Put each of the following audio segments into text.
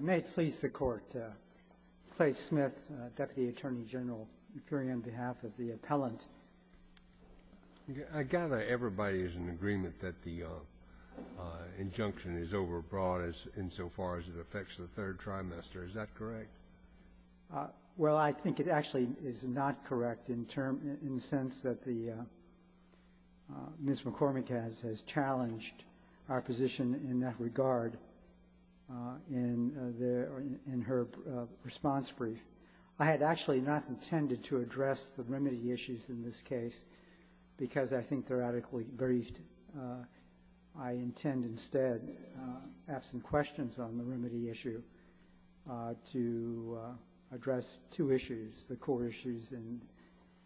May it please the Court, Clay Smith, Deputy Attorney General, appearing on behalf of the appellant. I gather everybody is in agreement that the injunction is overbroad insofar as it affects the third trimester. Is that correct? Well, I think it actually is not correct in the sense that Ms. McCormack has challenged our position in that regard in her response brief. I had actually not intended to address the remedy issues in this case because I think they're adequately briefed. I intend instead, absent questions on the remedy issue, to address two issues, the core issue in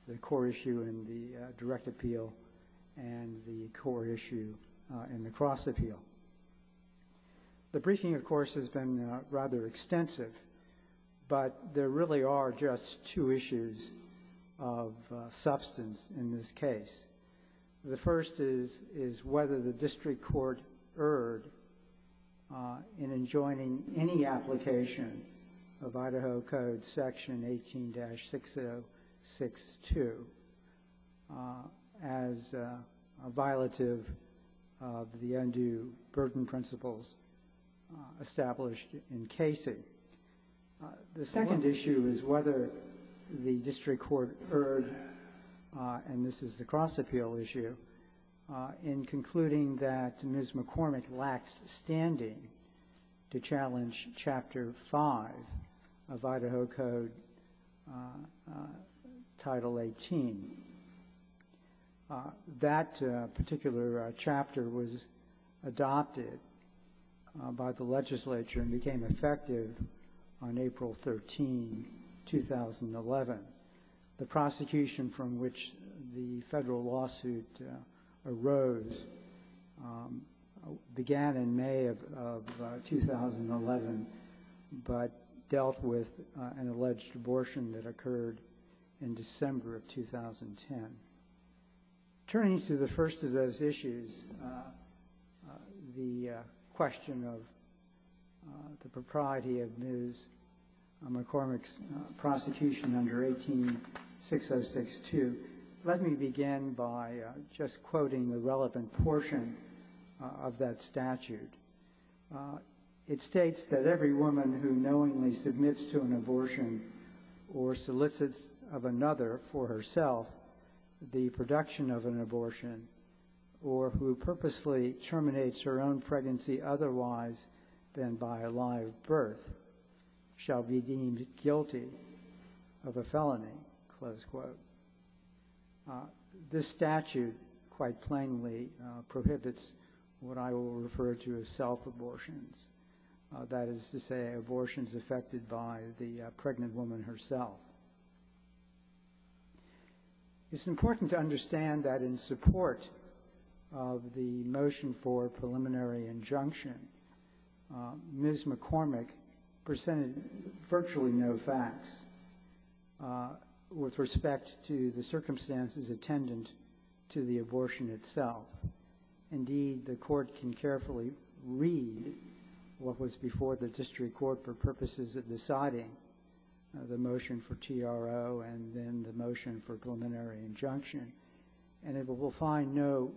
the direct appeal and the core issue in the cross appeal. The briefing, of course, has been rather extensive, but there really are just two issues of substance in this case. The first is whether the district court erred in enjoining any application of Idaho Code section 18-6062 as a violative of the undue burden principles established in Casey. The second issue is whether the district court erred, and this is the cross appeal issue, in concluding that Ms. McCormack lacks standing to challenge Chapter 5 of Idaho Code Title 18. That particular chapter was adopted by the legislature and became effective on April 13, 2011. The prosecution from which the federal lawsuit arose began in May of 2011, but dealt with an alleged abortion that occurred in December of 2010. Turning to the first of those issues, the question of the propriety of Ms. McCormack's prosecution under 18-6062, let me begin by just quoting the relevant portion of that statute. It states that every woman who knowingly submits to an abortion or solicits of another for herself the production of an abortion, or who purposely terminates her own pregnancy otherwise than by a live birth, shall be deemed guilty of a felony, close quote. This statute quite plainly prohibits what I will refer to as self-abortions, that is to say abortions affected by the pregnant woman herself. It's important to understand that in support of the motion for preliminary injunction, Ms. McCormack presented virtually no facts with respect to the circumstances attendant to the abortion itself. Indeed, the court can carefully read what was before the district court for purposes of deciding the motion for TRO and then the motion for preliminary injunction and it will find no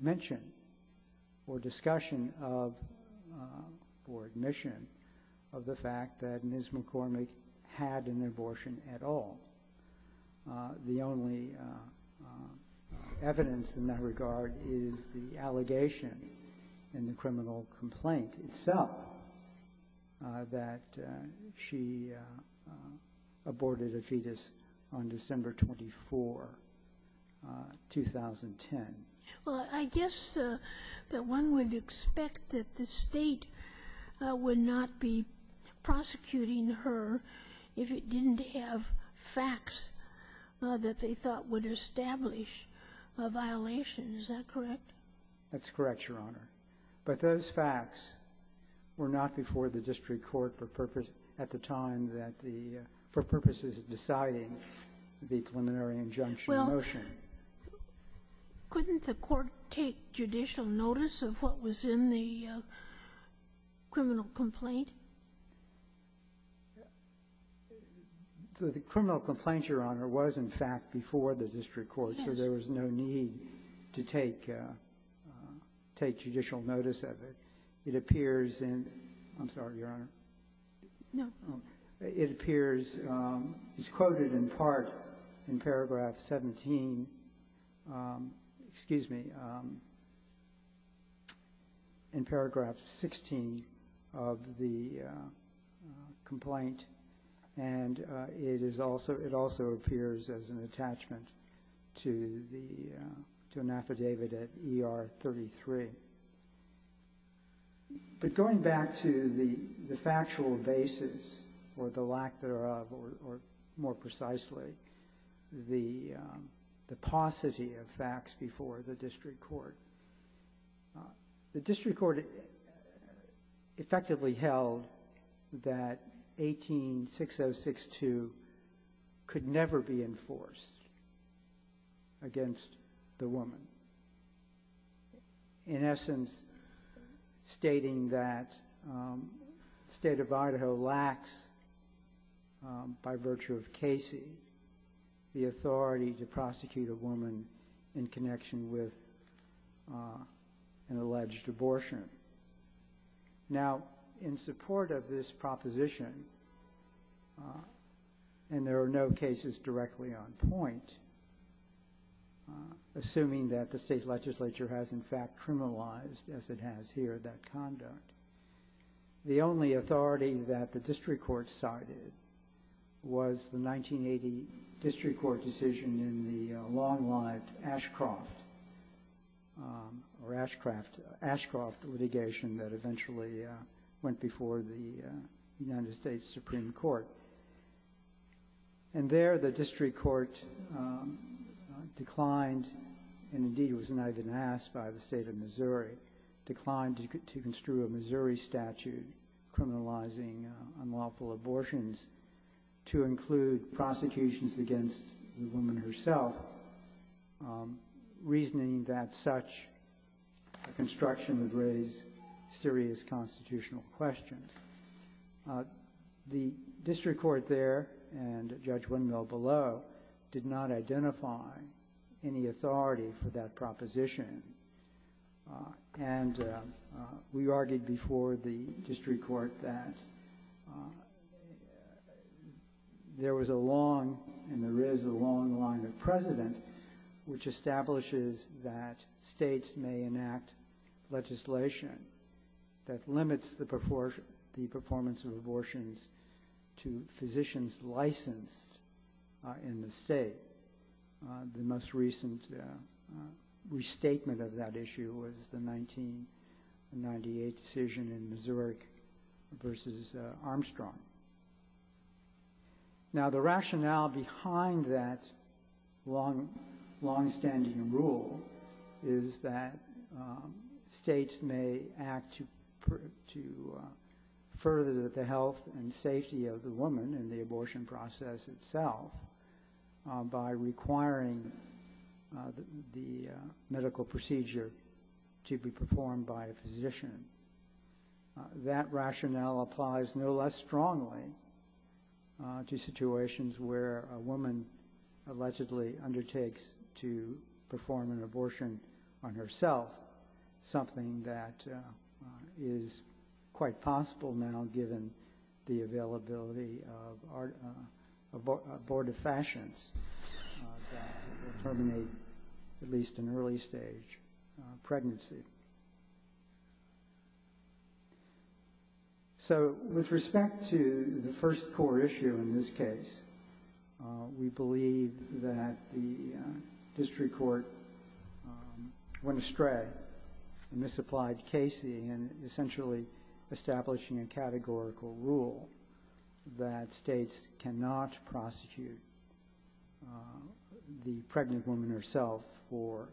mention or discussion of or admission of the fact that Ms. McCormack had an abortion at all. The only evidence in that regard is the allegation in the criminal complaint itself that she aborted a fetus on December 24, 2010. Well, I guess that one would expect that the state would not be prosecuting her if it didn't have facts that they thought would establish a violation. Is that correct? That's correct, Your Honor. But those facts were not before the district court at the time for purposes of deciding the preliminary injunction motion. Couldn't the court take judicial notice of what was in the criminal complaint? The criminal complaint, Your Honor, was in fact before the district court, so there was no need to take judicial notice of it. It appears in – I'm sorry, Your Honor. No. It appears – it's quoted in part in paragraph 17 – excuse me – in paragraph 16 of the complaint and it is also – it also appears as an attachment to the – to an affidavit at ER 33. But going back to the factual basis or the lack thereof or, more precisely, the paucity of facts before the district court, the district court effectively held that 18-6062 could never be enforced against the woman, in essence stating that the state of Idaho lacks, by virtue of Casey, the authority to prosecute a woman in connection with an alleged abortion. Now, in support of this proposition, and there are no cases directly on point, assuming that the state legislature has, in fact, criminalized, as it has here, that conduct, the only authority that the district court cited was the 1980 district court decision in the long-lived Ashcroft – or Ashcraft – Ashcroft litigation that eventually went before the United States Supreme Court. And there, the district court declined – and, indeed, it was denied even asked by the state of Missouri – declined to construe a Missouri statute criminalizing unlawful abortions to include prosecutions against the woman herself, reasoning that such a construction would raise serious constitutional questions. The district court there, and Judge Windmill below, did not identify any authority for that proposition. And we argued before the district court that there was a long, and there is a long line of precedent, which establishes that states may enact legislation that limits the performance of abortions to physicians licensed in the state. The most recent restatement of that issue was the 1998 decision in Missouri versus Armstrong. Now, the rationale behind that longstanding rule is that states may act to further the health and safety of the woman in the abortion process itself by requiring the medical procedure to be performed by a physician. That rationale applies no less strongly to situations where a woman allegedly undertakes to perform an abortion on herself, something that is quite possible now given the availability of abortifacients that terminate at least an early stage pregnancy. So, with respect to the first core issue in this case, we believe that the district court went astray and misapplied Casey in essentially establishing a categorical rule that states cannot prosecute the pregnant woman herself for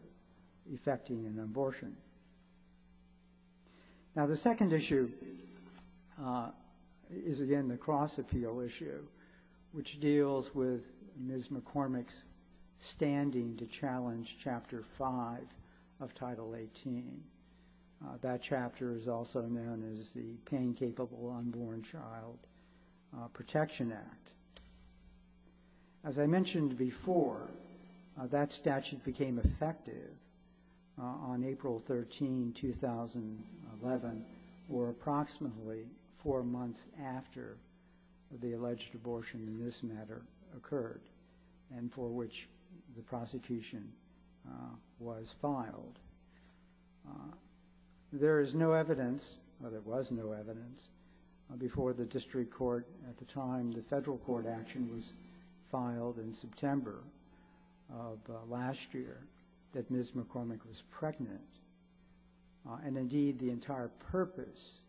effecting an abortion. Now, the second issue is again the cross-appeal issue, which deals with Ms. McCormick's standing to challenge Chapter 5 of Title 18. That chapter is also known as the Pain-Capable Unborn Child Protection Act. As I mentioned before, that statute became effective on April 13, 2011, or approximately four months after the alleged abortion in this matter occurred and for which the prosecution was filed. There is no evidence, or there was no evidence, before the district court at the time the federal court action was filed in September of last year that Ms. McCormick was pregnant. And indeed, the entire purpose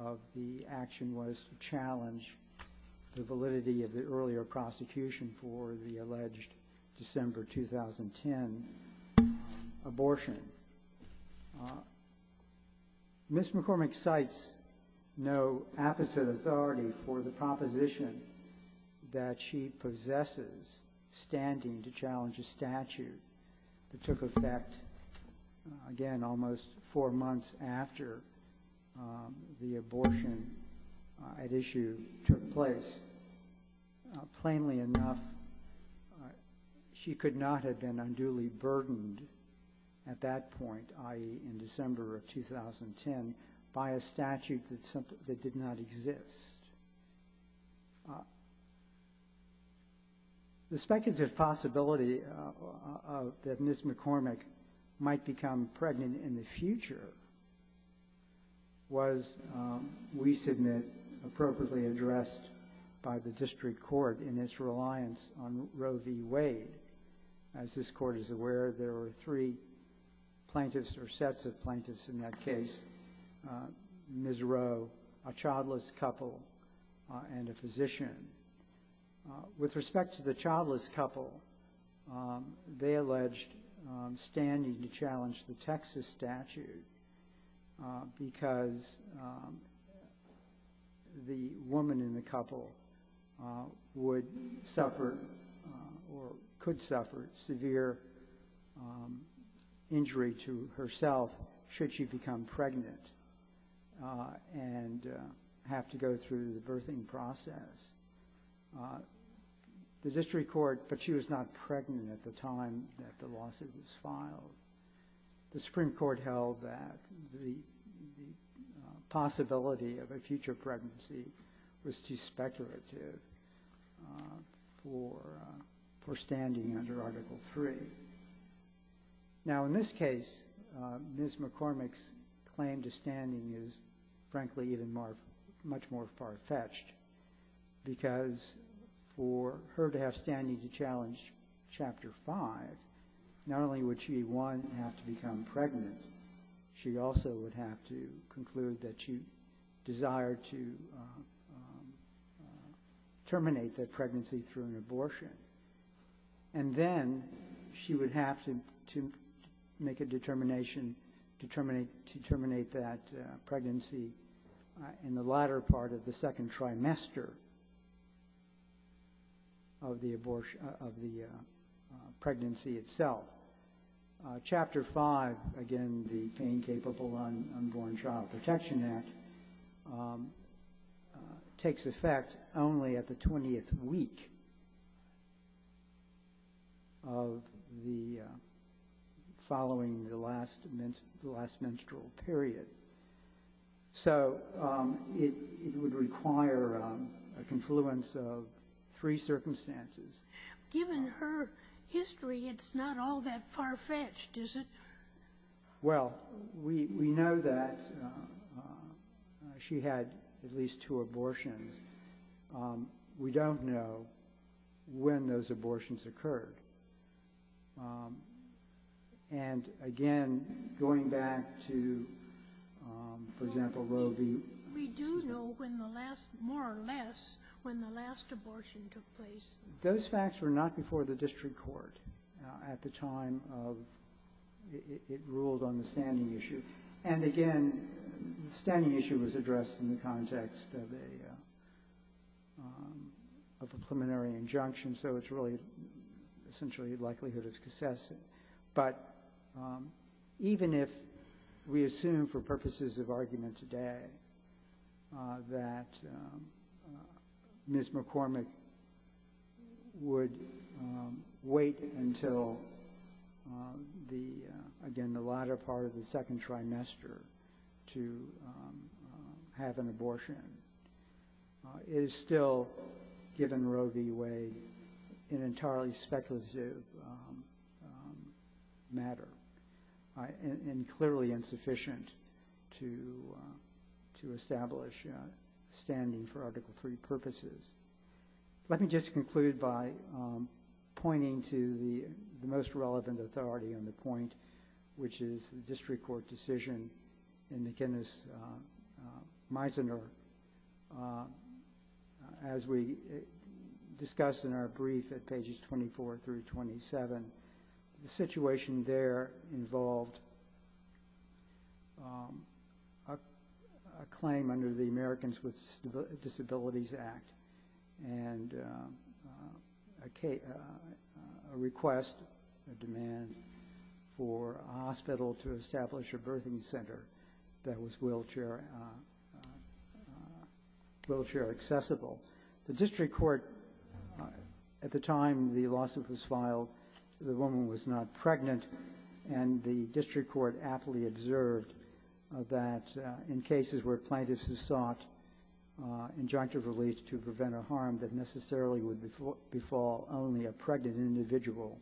of the action was to challenge the validity of the earlier prosecution for the alleged December 2010 abortion. Ms. McCormick cites no apposite authority for the proposition that she possesses standing to challenge a statute that took effect, again, almost four months after the abortion at issue took place. Plainly enough, she could not have been unduly burdened at that point, i.e., in December of 2010, by a statute that did not exist. The speculative possibility that Ms. McCormick might become pregnant in the future was, we submit, appropriately addressed by the district court in its reliance on Roe v. Wade. As this court is aware, there were three plaintiffs, or sets of plaintiffs in that case, Ms. Roe, a childless couple, and a physician. With respect to the childless couple, they alleged standing to challenge the Texas statute because the woman in the couple would suffer, or could suffer, severe injury to herself should she become pregnant and have to go through the birthing process. The district court, but she was not pregnant at the time that the lawsuit was filed, the Supreme Court held that the possibility of a future pregnancy was too speculative for standing under Article III. Now, in this case, Ms. McCormick's claim to standing is, frankly, much more far-fetched because for her to have standing to challenge Chapter V, not only would she, one, have to become pregnant, she also would have to conclude that she desired to terminate that pregnancy through an abortion. And then she would have to make a determination to terminate that pregnancy in the latter part of the second trimester of the pregnancy itself. Chapter V, again, the Pain-Capable Unborn Child Protection Act, takes effect only at the 20th week following the last menstrual period. So, it would require a confluence of three circumstances. Given her history, it's not all that far-fetched, is it? Well, we know that she had at least two abortions. We don't know when those abortions occurred. And, again, going back to, for example, Roe v. Siegel. We do know when the last, more or less, when the last abortion took place. Those facts were not before the district court at the time it ruled on the standing issue. And, again, the standing issue was addressed in the context of a preliminary injunction, so it's really essentially a likelihood of success. But even if we assume, for purposes of argument today, that Ms. McCormick would wait until, again, the latter part of the second trimester to have an abortion, it is still, given Roe v. Wade, an entirely speculative matter and clearly insufficient to establish standing for Article III purposes. Let me just conclude by pointing to the most relevant authority on the point, which is the district court decision in the Guinness Meisner. As we discussed in our brief at pages 24 through 27, the situation there involved a claim under the Americans with Disabilities Act and a request, a demand, for a hospital to establish a birthing center that was wheelchair accessible. The district court, at the time the lawsuit was filed, the woman was not pregnant. And the district court aptly observed that in cases where plaintiffs have sought injunctive relief to prevent a harm that necessarily would befall only a pregnant individual,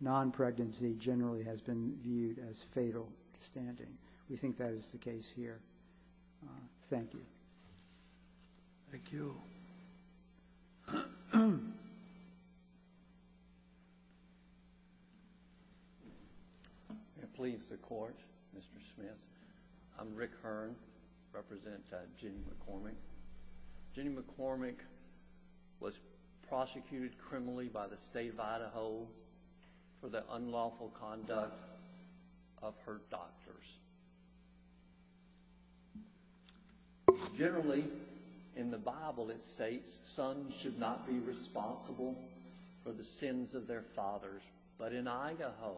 non-pregnancy generally has been viewed as fatal standing. We think that is the case here. Thank you. Thank you. Please, the court, Mr. Smith. I'm Rick Hearn, representing Jenny McCormick. Jenny McCormick was prosecuted criminally by the state of Idaho for the unlawful conduct of her doctors. Generally, in the Bible it states, sons should not be responsible for the sins of their fathers. But in Idaho,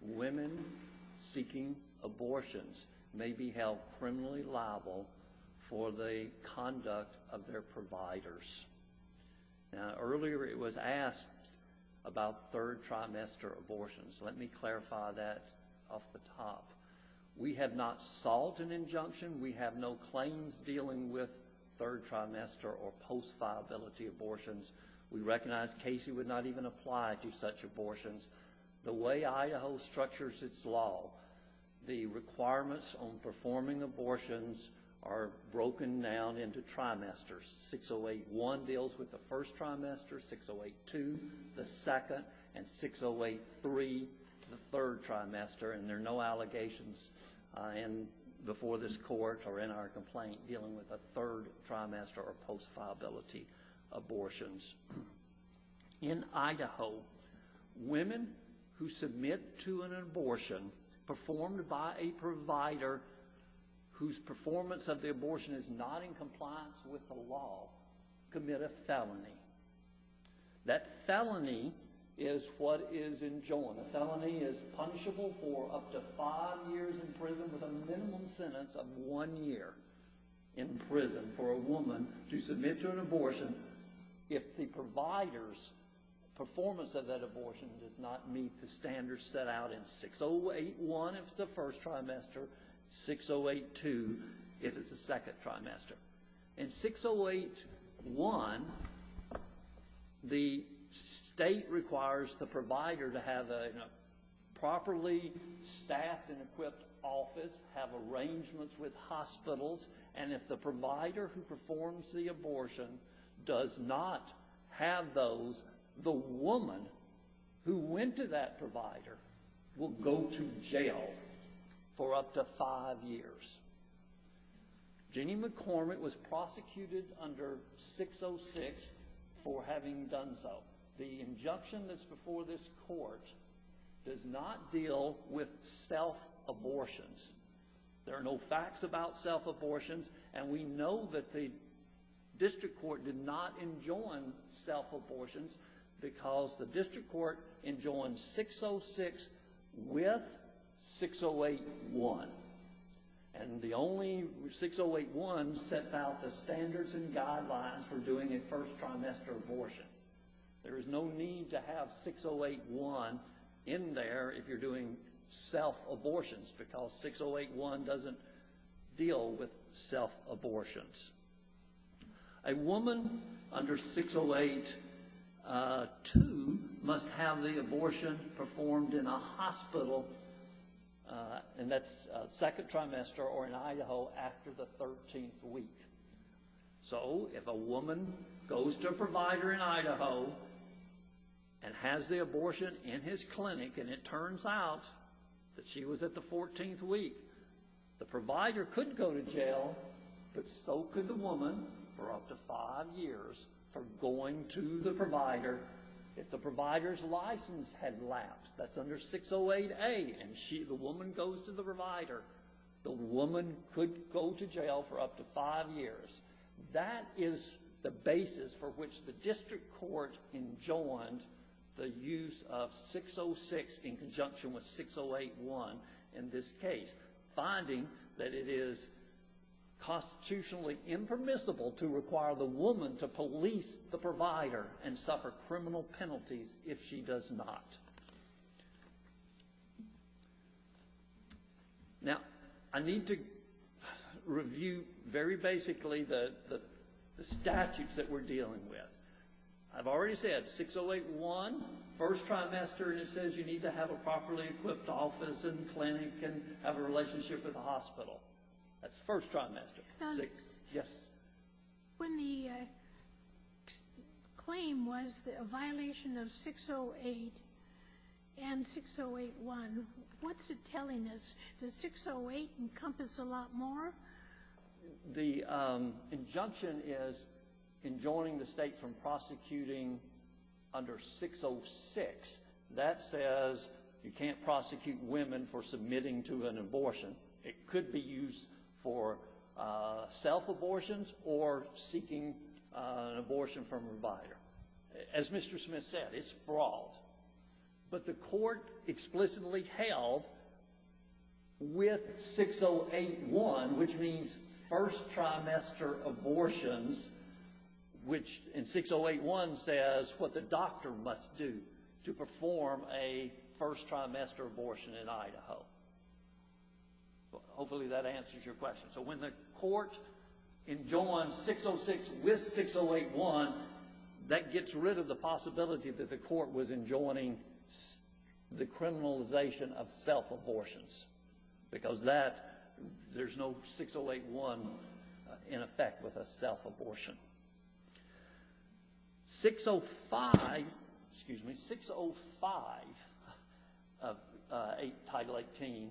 women seeking abortions may be held criminally liable for the conduct of their providers. Now, earlier it was asked about third trimester abortions. Let me clarify that off the top. We have not sought an injunction. We have no claims dealing with third trimester or post-violability abortions. We recognize Casey would not even apply to such abortions. The way Idaho structures its law, the requirements on performing abortions are broken down into trimesters. 608-1 deals with the first trimester, 608-2 the second, and 608-3 the third trimester. And there are no allegations before this court or in our complaint dealing with a third trimester or post-violability abortions. In Idaho, women who submit to an abortion performed by a provider whose performance of the abortion is not in compliance with the law commit a felony. That felony is what is enjoined. The felony is punishable for up to five years in prison with a minimum sentence of one year in prison for a woman to submit to an abortion if the provider's performance of that abortion does not meet the standards set out in 608-1 if it's the first trimester, 608-2 if it's the second trimester. In 608-1, the state requires the provider to have a properly staffed and equipped office, have arrangements with hospitals, and if the provider who performs the abortion does not have those, the woman who went to that provider will go to jail for up to five years. Jeannie McCormick was prosecuted under 606 for having done so. The injunction that's before this court does not deal with self-abortions. There are no facts about self-abortions, and we know that the district court did not enjoin self-abortions because the district court enjoined 606 with 608-1. And the only 608-1 sets out the standards and guidelines for doing a first trimester abortion. There is no need to have 608-1 in there if you're doing self-abortions because 608-1 doesn't deal with self-abortions. A woman under 608-2 must have the abortion performed in a hospital in that second trimester or in Idaho after the 13th week. So if a woman goes to a provider in Idaho and has the abortion in his clinic and it turns out that she was at the 14th week, the provider could go to jail, but so could the woman for up to five years for going to the provider. If the provider's license had lapsed, that's under 608-A, and the woman goes to the provider, the woman could go to jail for up to five years. That is the basis for which the district court enjoined the use of 606 in conjunction with 608-1 in this case. Finding that it is constitutionally impermissible to require the woman to police the provider and suffer criminal penalties if she does not. Now, I need to review very basically the statutes that we're dealing with. I've already said 608-1, first trimester, and it says you need to have a properly equipped office and clinic and have a relationship with the hospital. That's first trimester. When the claim was a violation of 608 and 608-1, what's it telling us? Does 608 encompass a lot more? The injunction is enjoining the state from prosecuting under 606. That says you can't prosecute women for submitting to an abortion. It could be used for self-abortions or seeking an abortion from a provider. As Mr. Smith said, it's broad. But the court explicitly held with 608-1, which means first trimester abortions, which in 608-1 says what the doctor must do to perform a first trimester abortion in Idaho. Hopefully that answers your question. So when the court enjoins 606 with 608-1, that gets rid of the possibility that the court was enjoining the criminalization of self-abortions. Because there's no 608-1 in effect with a self-abortion. 605 Title 18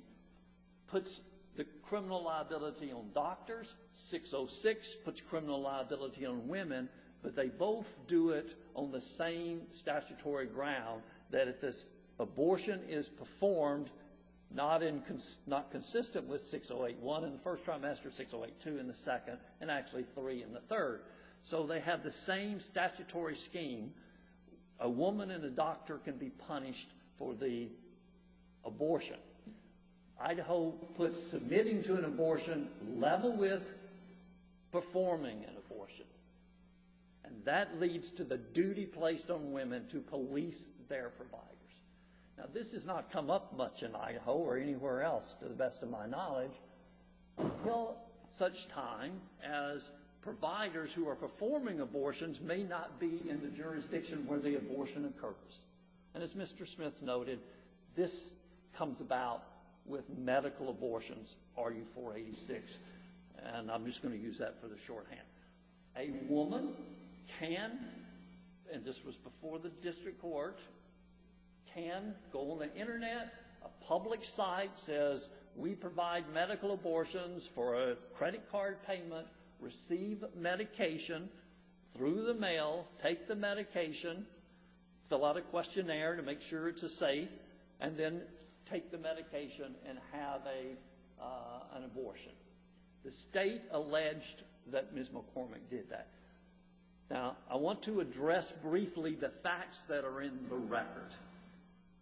puts the criminal liability on doctors. 606 puts criminal liability on women. But they both do it on the same statutory ground that if this abortion is performed not consistent with 608-1 in the first trimester, 608-2 in the second, and actually 3 in the third. So they have the same statutory scheme. A woman and a doctor can be punished for the abortion. Idaho puts submitting to an abortion level with performing an abortion. And that leads to the duty placed on women to police their providers. Now this has not come up much in Idaho or anywhere else to the best of my knowledge. Until such time as providers who are performing abortions may not be in the jurisdiction where the abortion occurs. And as Mr. Smith noted, this comes about with medical abortions, RU486. And I'm just going to use that for the shorthand. A woman can, and this was before the district court, can go on the internet, a public site says we provide medical abortions for a credit card payment, receive medication through the mail, take the medication, fill out a questionnaire to make sure it's a safe, and then take the medication and have an abortion. The state alleged that Ms. McCormick did that. Now I want to address briefly the facts that are in the record.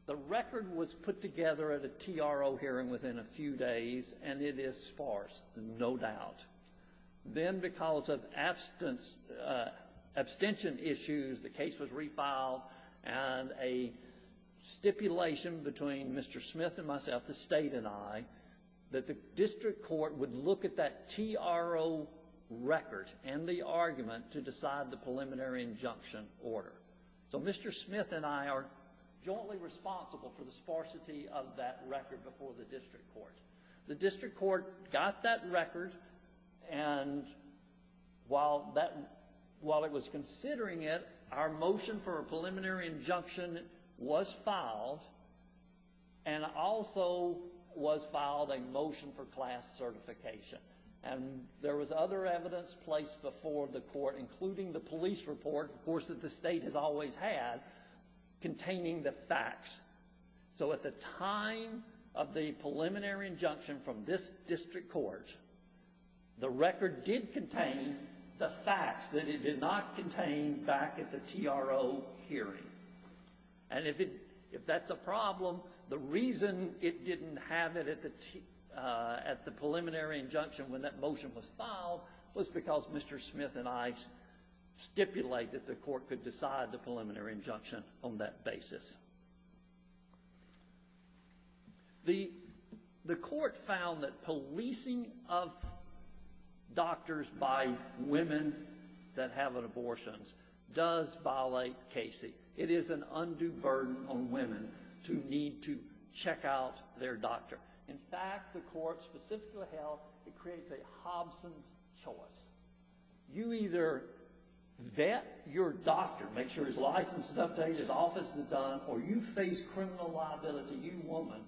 The record was put together at a TRO hearing within a few days, and it is sparse, no doubt. Then because of abstention issues, the case was refiled, and a stipulation between Mr. Smith and myself, the state and I, that the district court would look at that TRO record and the argument to decide the preliminary injunction order. So Mr. Smith and I are jointly responsible for the sparsity of that record before the district court. The district court got that record, and while it was considering it, our motion for a preliminary injunction was filed, and also was filed a motion for class certification. And there was other evidence placed before the court, including the police report, of course, that the state has always had, containing the facts. So at the time of the preliminary injunction from this district court, the record did contain the facts that it did not contain back at the TRO hearing. And if that's a problem, the reason it didn't have it at the preliminary injunction when that motion was filed was because Mr. Smith and I stipulated that the court could decide the preliminary injunction on that basis. The court found that policing of doctors by women that have an abortion does violate Casey. It is an undue burden on women to need to check out their doctor. In fact, the court specifically held it creates a Hobson's choice. You either vet your doctor, make sure his license is updated, his office is done, or you face criminal liability, you woman,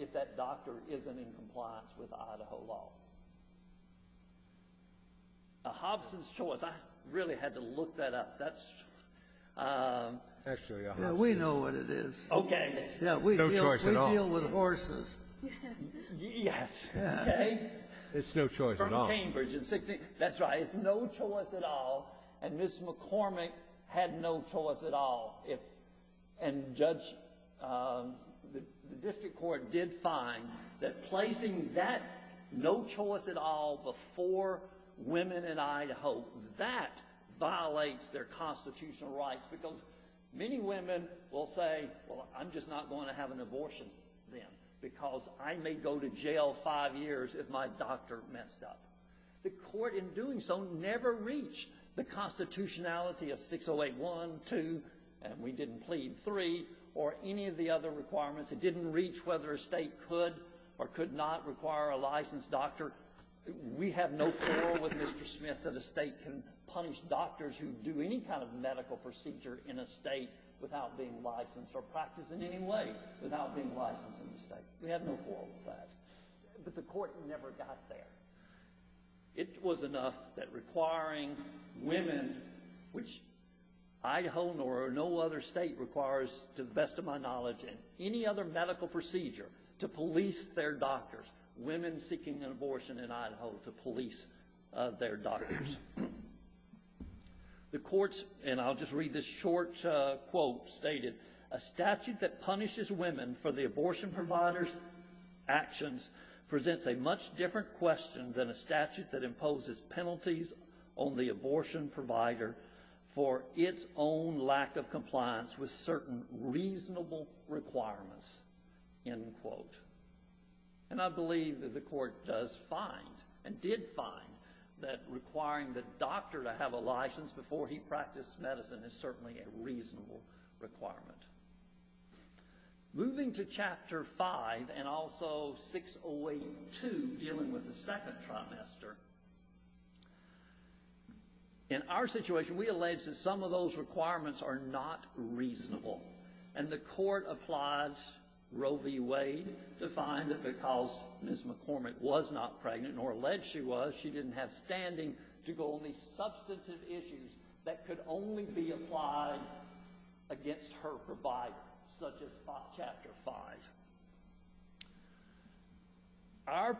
if that doctor isn't in compliance with Idaho law. A Hobson's choice. I really had to look that up. That's... Actually, a Hobson's choice. We know what it is. Okay. No choice at all. We deal with horses. Yes. Okay. It's no choice at all. From Cambridge. That's right. It's no choice at all. And Ms. McCormick had no choice at all. And the district court did find that placing that no choice at all before women in Idaho, that violates their constitutional rights because many women will say, well, I'm just not going to have an abortion then because I may go to jail five years if my doctor messed up. The court in doing so never reached the constitutionality of 608-1, 2, and we didn't plead, 3, or any of the other requirements. It didn't reach whether a state could or could not require a licensed doctor. We have no quarrel with Mr. Smith that a state can punish doctors who do any kind of medical procedure in a state without being licensed or practice in any way without being licensed in the state. We have no quarrel with that. But the court never got there. It was enough that requiring women, which Idaho nor no other state requires to the best of my knowledge in any other medical procedure to police their doctors, women seeking an abortion in Idaho to police their doctors. And I'll just read this short quote stated, a statute that punishes women for the abortion provider's actions presents a much different question than a statute that imposes penalties on the abortion provider for its own lack of compliance with certain reasonable requirements, end quote. And I believe that the court does find and did find that requiring the doctor to have a license before he practiced medicine is certainly a reasonable requirement. Moving to Chapter 5 and also 608.2, dealing with the second trimester, in our situation, we allege that some of those requirements are not reasonable. And the court applied Roe v. Wade to find that because Ms. McCormick was not pregnant, nor alleged she was, she didn't have standing to go on these substantive issues that could only be applied against her provider, such as Chapter 5. Our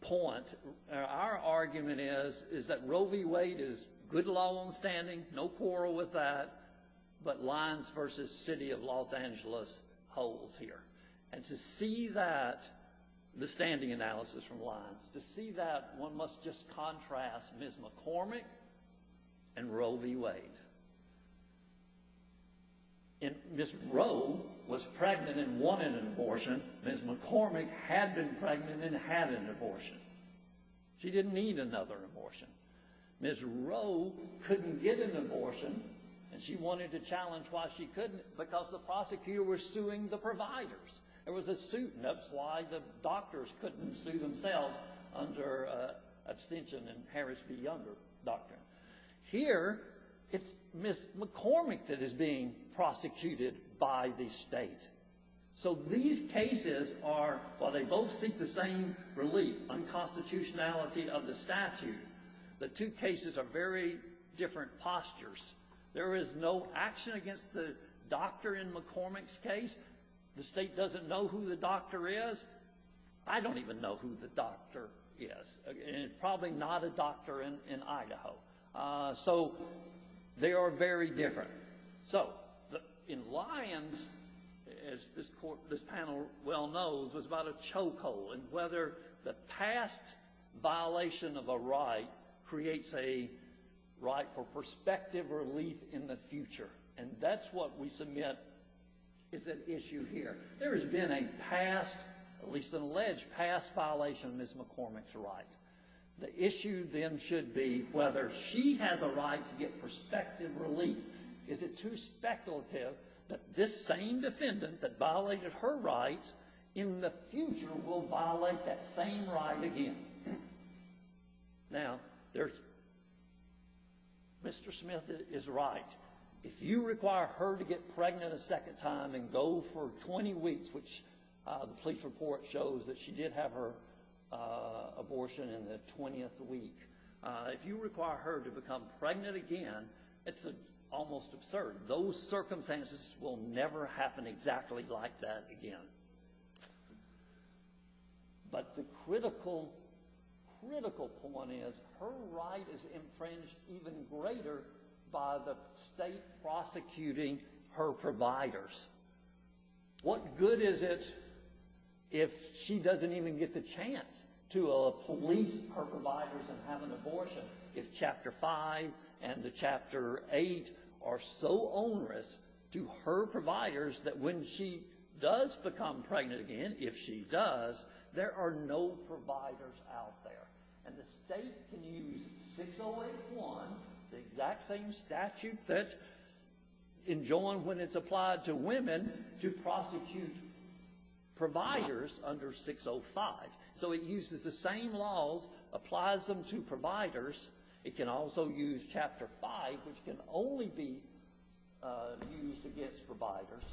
point, our argument is that Roe v. Wade is good law on standing, no quarrel with that, but Lyons v. City of Los Angeles holds here. And to see that, the standing analysis from Lyons, to see that, one must just contrast Ms. McCormick and Roe v. Wade. Ms. Roe was pregnant and wanted an abortion, Ms. McCormick had been pregnant and had an abortion. She didn't need another abortion. Ms. Roe couldn't get an abortion, and she wanted to challenge why she couldn't, because the prosecutor was suing the providers. There was a suit, and that's why the doctors couldn't sue themselves under abstention and perish the younger doctor. Here, it's Ms. McCormick that is being prosecuted by the state. So these cases are, while they both seek the same relief, unconstitutionality of the statute, the two cases are very different postures. There is no action against the doctor in McCormick's case. The state doesn't know who the doctor is. I don't even know who the doctor is, and probably not a doctor in Idaho. So they are very different. So in Lyons, as this panel well knows, was about a chokehold and whether the past violation of a right creates a right for perspective relief in the future. And that's what we submit is at issue here. There has been a past, at least an alleged past violation of Ms. McCormick's right. The issue then should be whether she has a right to get perspective relief. Is it too speculative that this same defendant that violated her right in the future will violate that same right again? Now, Mr. Smith is right. If you require her to get pregnant a second time and go for 20 weeks, which the police report shows that she did have her abortion in the 20th week, if you require her to become pregnant again, it's almost absurd. Those circumstances will never happen exactly like that again. But the critical point is her right is infringed even greater by the state prosecuting her providers. What good is it if she doesn't even get the chance to police her providers and have an abortion if Chapter 5 and the Chapter 8 are so onerous to her providers that when she does become pregnant again, if she does, there are no providers out there? And the state can use 608-1, the exact same statute that is enjoined when it's applied to women, to prosecute providers under 605. So it uses the same laws, applies them to providers. It can also use Chapter 5, which can only be used against providers,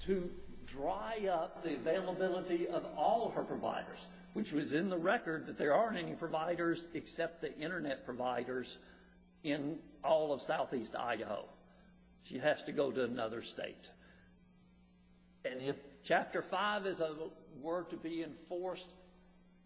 to dry up the availability of all her providers, which was in the record that there aren't any providers except the Internet providers in all of southeast Idaho. She has to go to another state. And if Chapter 5 were to be enforced,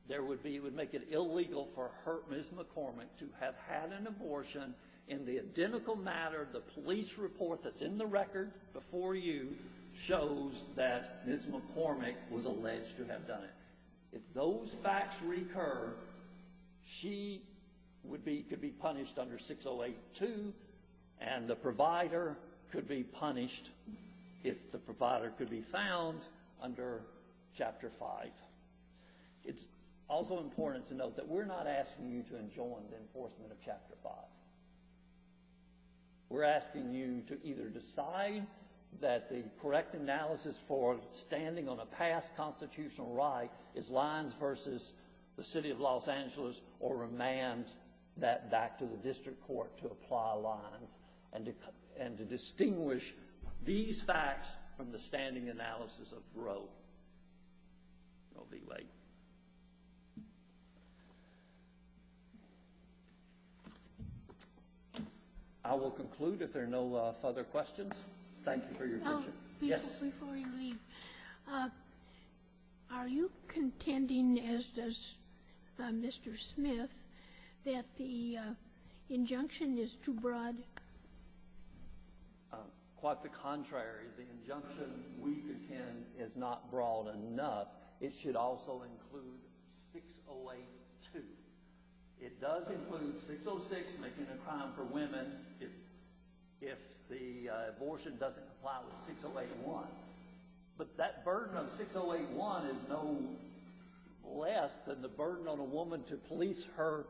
it would make it illegal for Ms. McCormick to have had an abortion. In the identical matter, the police report that's in the record before you shows that Ms. McCormick was alleged to have done it. If those facts recur, she could be punished under 608-2, and the provider could be punished if the provider could be found under Chapter 5. It's also important to note that we're not asking you to enjoin the enforcement of Chapter 5. We're asking you to either decide that the correct analysis for standing on a past constitutional right is Lyons v. the City of Los Angeles, or remand that back to the district court to apply Lyons and to distinguish these facts from the standing analysis of Roe. I'll be late. I will conclude if there are no further questions. Thank you for your attention. Before you leave, are you contending, as does Mr. Smith, that the injunction is too broad? Quite the contrary. The injunction we contend is not broad enough. It should also include 608-2. It does include 606, making a crime for women, if the abortion doesn't comply with 608-1. But that burden of 608-1 is no less than the burden on a woman to police her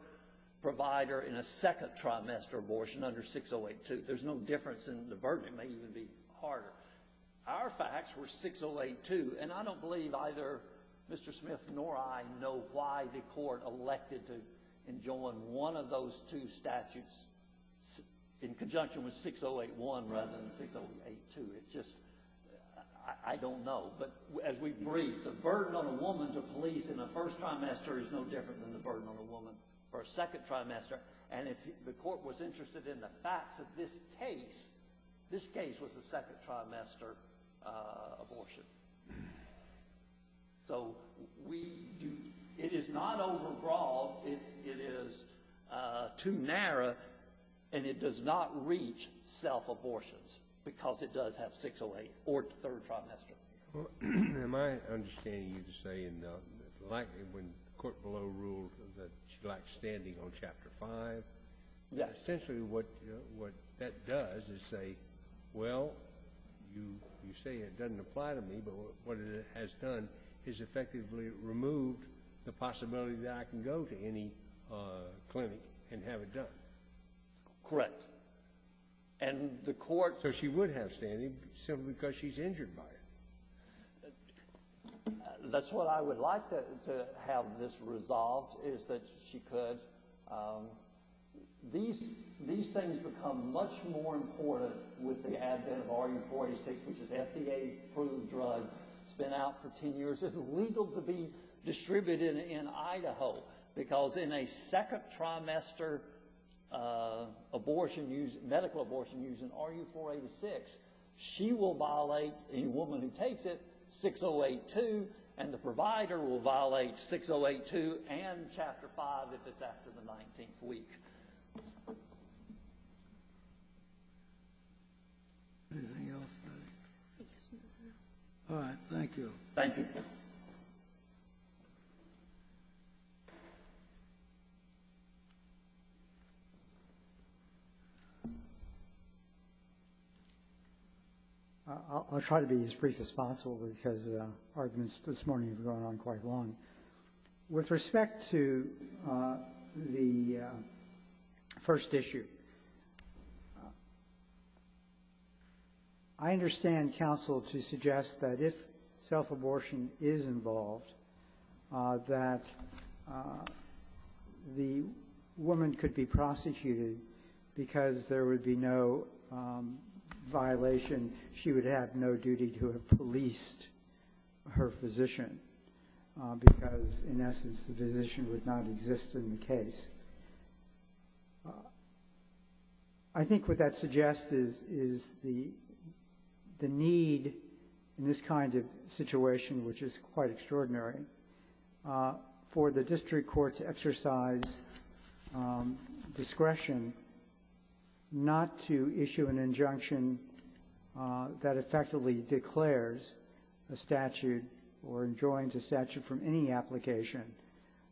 provider in a second trimester abortion under 608-2. There's no difference in the burden. It may even be harder. Our facts were 608-2, and I don't believe either Mr. Smith nor I know why the court elected to enjoin one of those two statutes in conjunction with 608-1 rather than 608-2. I don't know. But as we've briefed, the burden on a woman to police in a first trimester is no different than the burden on a woman for a second trimester. And if the court was interested in the facts of this case, this case was a second trimester abortion. So it is not overbroad. It is too narrow, and it does not reach self-abortions because it does have 608 or third trimester. Am I understanding you to say when the court below ruled that she lacked standing on Chapter 5, essentially what that does is say, well, you say it doesn't apply to me, but what it has done is effectively removed the possibility that I can go to any clinic and have it done. Correct. So she would have standing simply because she's injured by it. That's what I would like to have this resolved, is that she could. These things become much more important with the advent of RU-46, which is FDA-approved drug. It's been out for 10 years. It's legal to be distributed in Idaho because in a second trimester abortion, medical abortion using RU-486, she will violate, the woman who takes it, 608-2, and the provider will violate 608-2 and Chapter 5 if it's after the 19th week. Anything else? All right. Thank you. Thank you. I'll try to be as brief as possible because arguments this morning have gone on quite long. With respect to the first issue, I understand counsel to suggest that if self-abortion is involved, that the woman could be prosecuted because there would be no violation. She would have no duty to have policed her physician because, in essence, the physician would not exist in the case. I think what that suggests is the need in this kind of situation, which is quite extraordinary, for the district court to exercise discretion not to issue an injunction that effectively declares a statute or enjoins a statute from any application,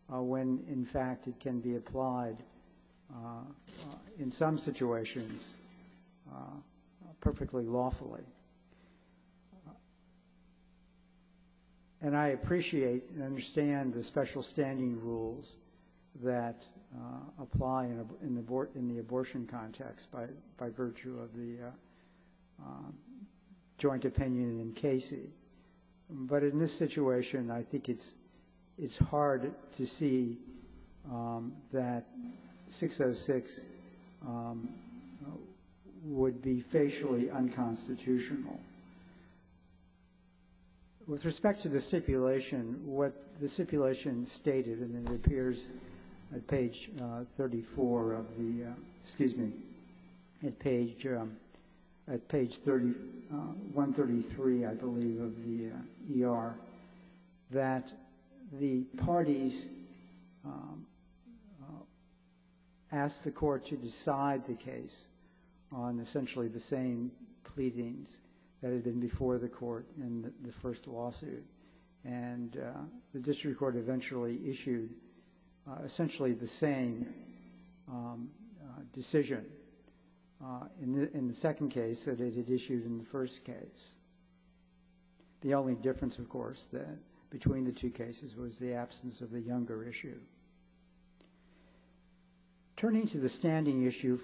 when, in fact, it can be applied in some situations perfectly lawfully. And I appreciate and understand the special standing rules that apply in the abortion context by virtue of the joint opinion in Casey. But in this situation, I think it's hard to see that 606 would be facially unconstitutional. With respect to the stipulation, what the stipulation stated, and it appears at page 34 of the — excuse me, at page 133, I believe, of the ER, that the parties asked the court to decide the case on essentially the same pleadings. That had been before the court in the first lawsuit. And the district court eventually issued essentially the same decision in the second case that it had issued in the first case. The only difference, of course, between the two cases was the absence of the younger issue. Turning to the standing issue,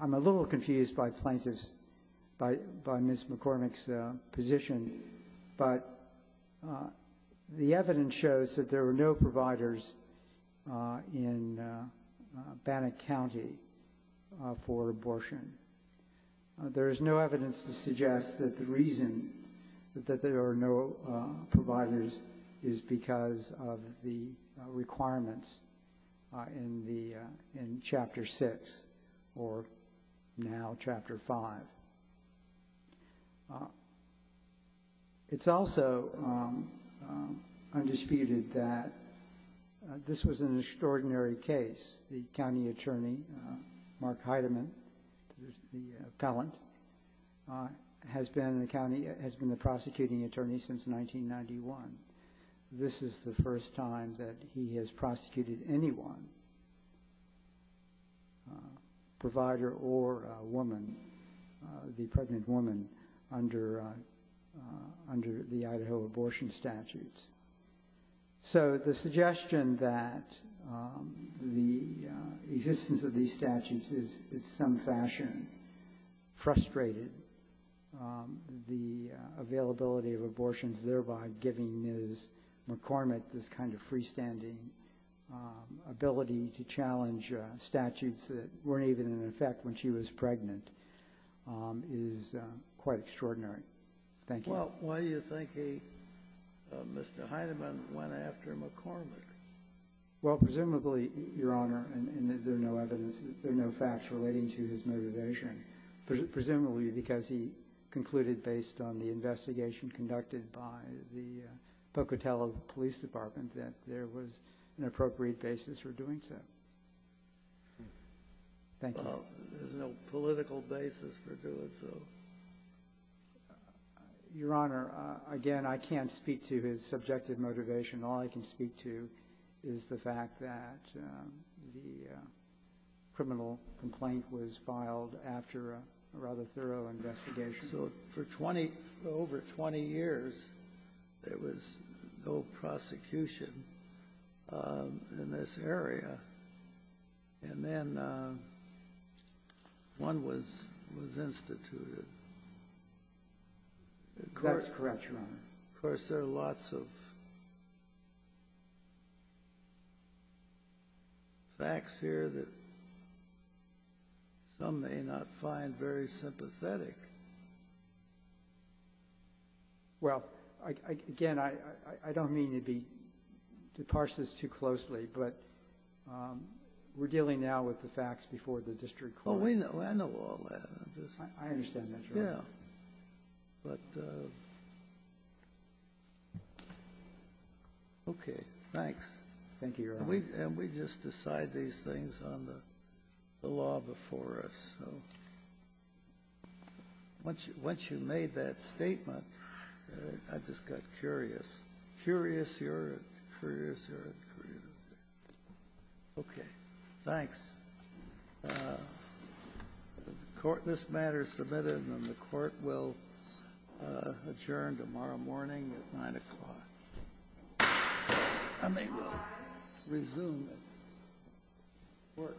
I'm a little confused by plaintiffs, by Ms. McCormick's position, but the evidence shows that there were no providers in Bannock County for abortion. There is no evidence to suggest that the reason that there are no providers is because of the requirements in Chapter 6, or now Chapter 5. It's also undisputed that this was an extraordinary case. The county attorney, Mark Heidemann, the appellant, has been the prosecuting attorney since 1991. This is the first time that he has prosecuted anyone, provider or woman, the pregnant woman, under the Idaho abortion statutes. So the suggestion that the existence of these statutes is in some fashion frustrated, the availability of abortions thereby giving Ms. McCormick this kind of freestanding ability to challenge statutes that weren't even in effect when she was pregnant is quite extraordinary. Thank you. Well, why do you think he, Mr. Heidemann, went after McCormick? Well, presumably, Your Honor, and there's no evidence, there's no facts relating to his motivation, presumably because he concluded, based on the investigation conducted by the Pocatello Police Department, that there was an appropriate basis for doing so. Well, there's no political basis for doing so. Your Honor, again, I can't speak to his subjective motivation. All I can speak to is the fact that the criminal complaint was filed after a rather thorough investigation. So for over 20 years, there was no prosecution in this area. And then one was instituted. That's correct, Your Honor. Of course, there are lots of facts here that some may not find very sympathetic. Well, again, I don't mean to parse this too closely, but we're dealing now with the facts before the district court. Oh, I know all that. I understand that, Your Honor. Yeah, but, okay, thanks. Thank you, Your Honor. And we just decide these things on the law before us. Once you made that statement, I just got curious. Curious, Your Honor, curious, Your Honor. Okay. Thanks. This matter is submitted, and the Court will adjourn tomorrow morning at 9 o'clock. And they will resume its work tomorrow morning at 9 o'clock.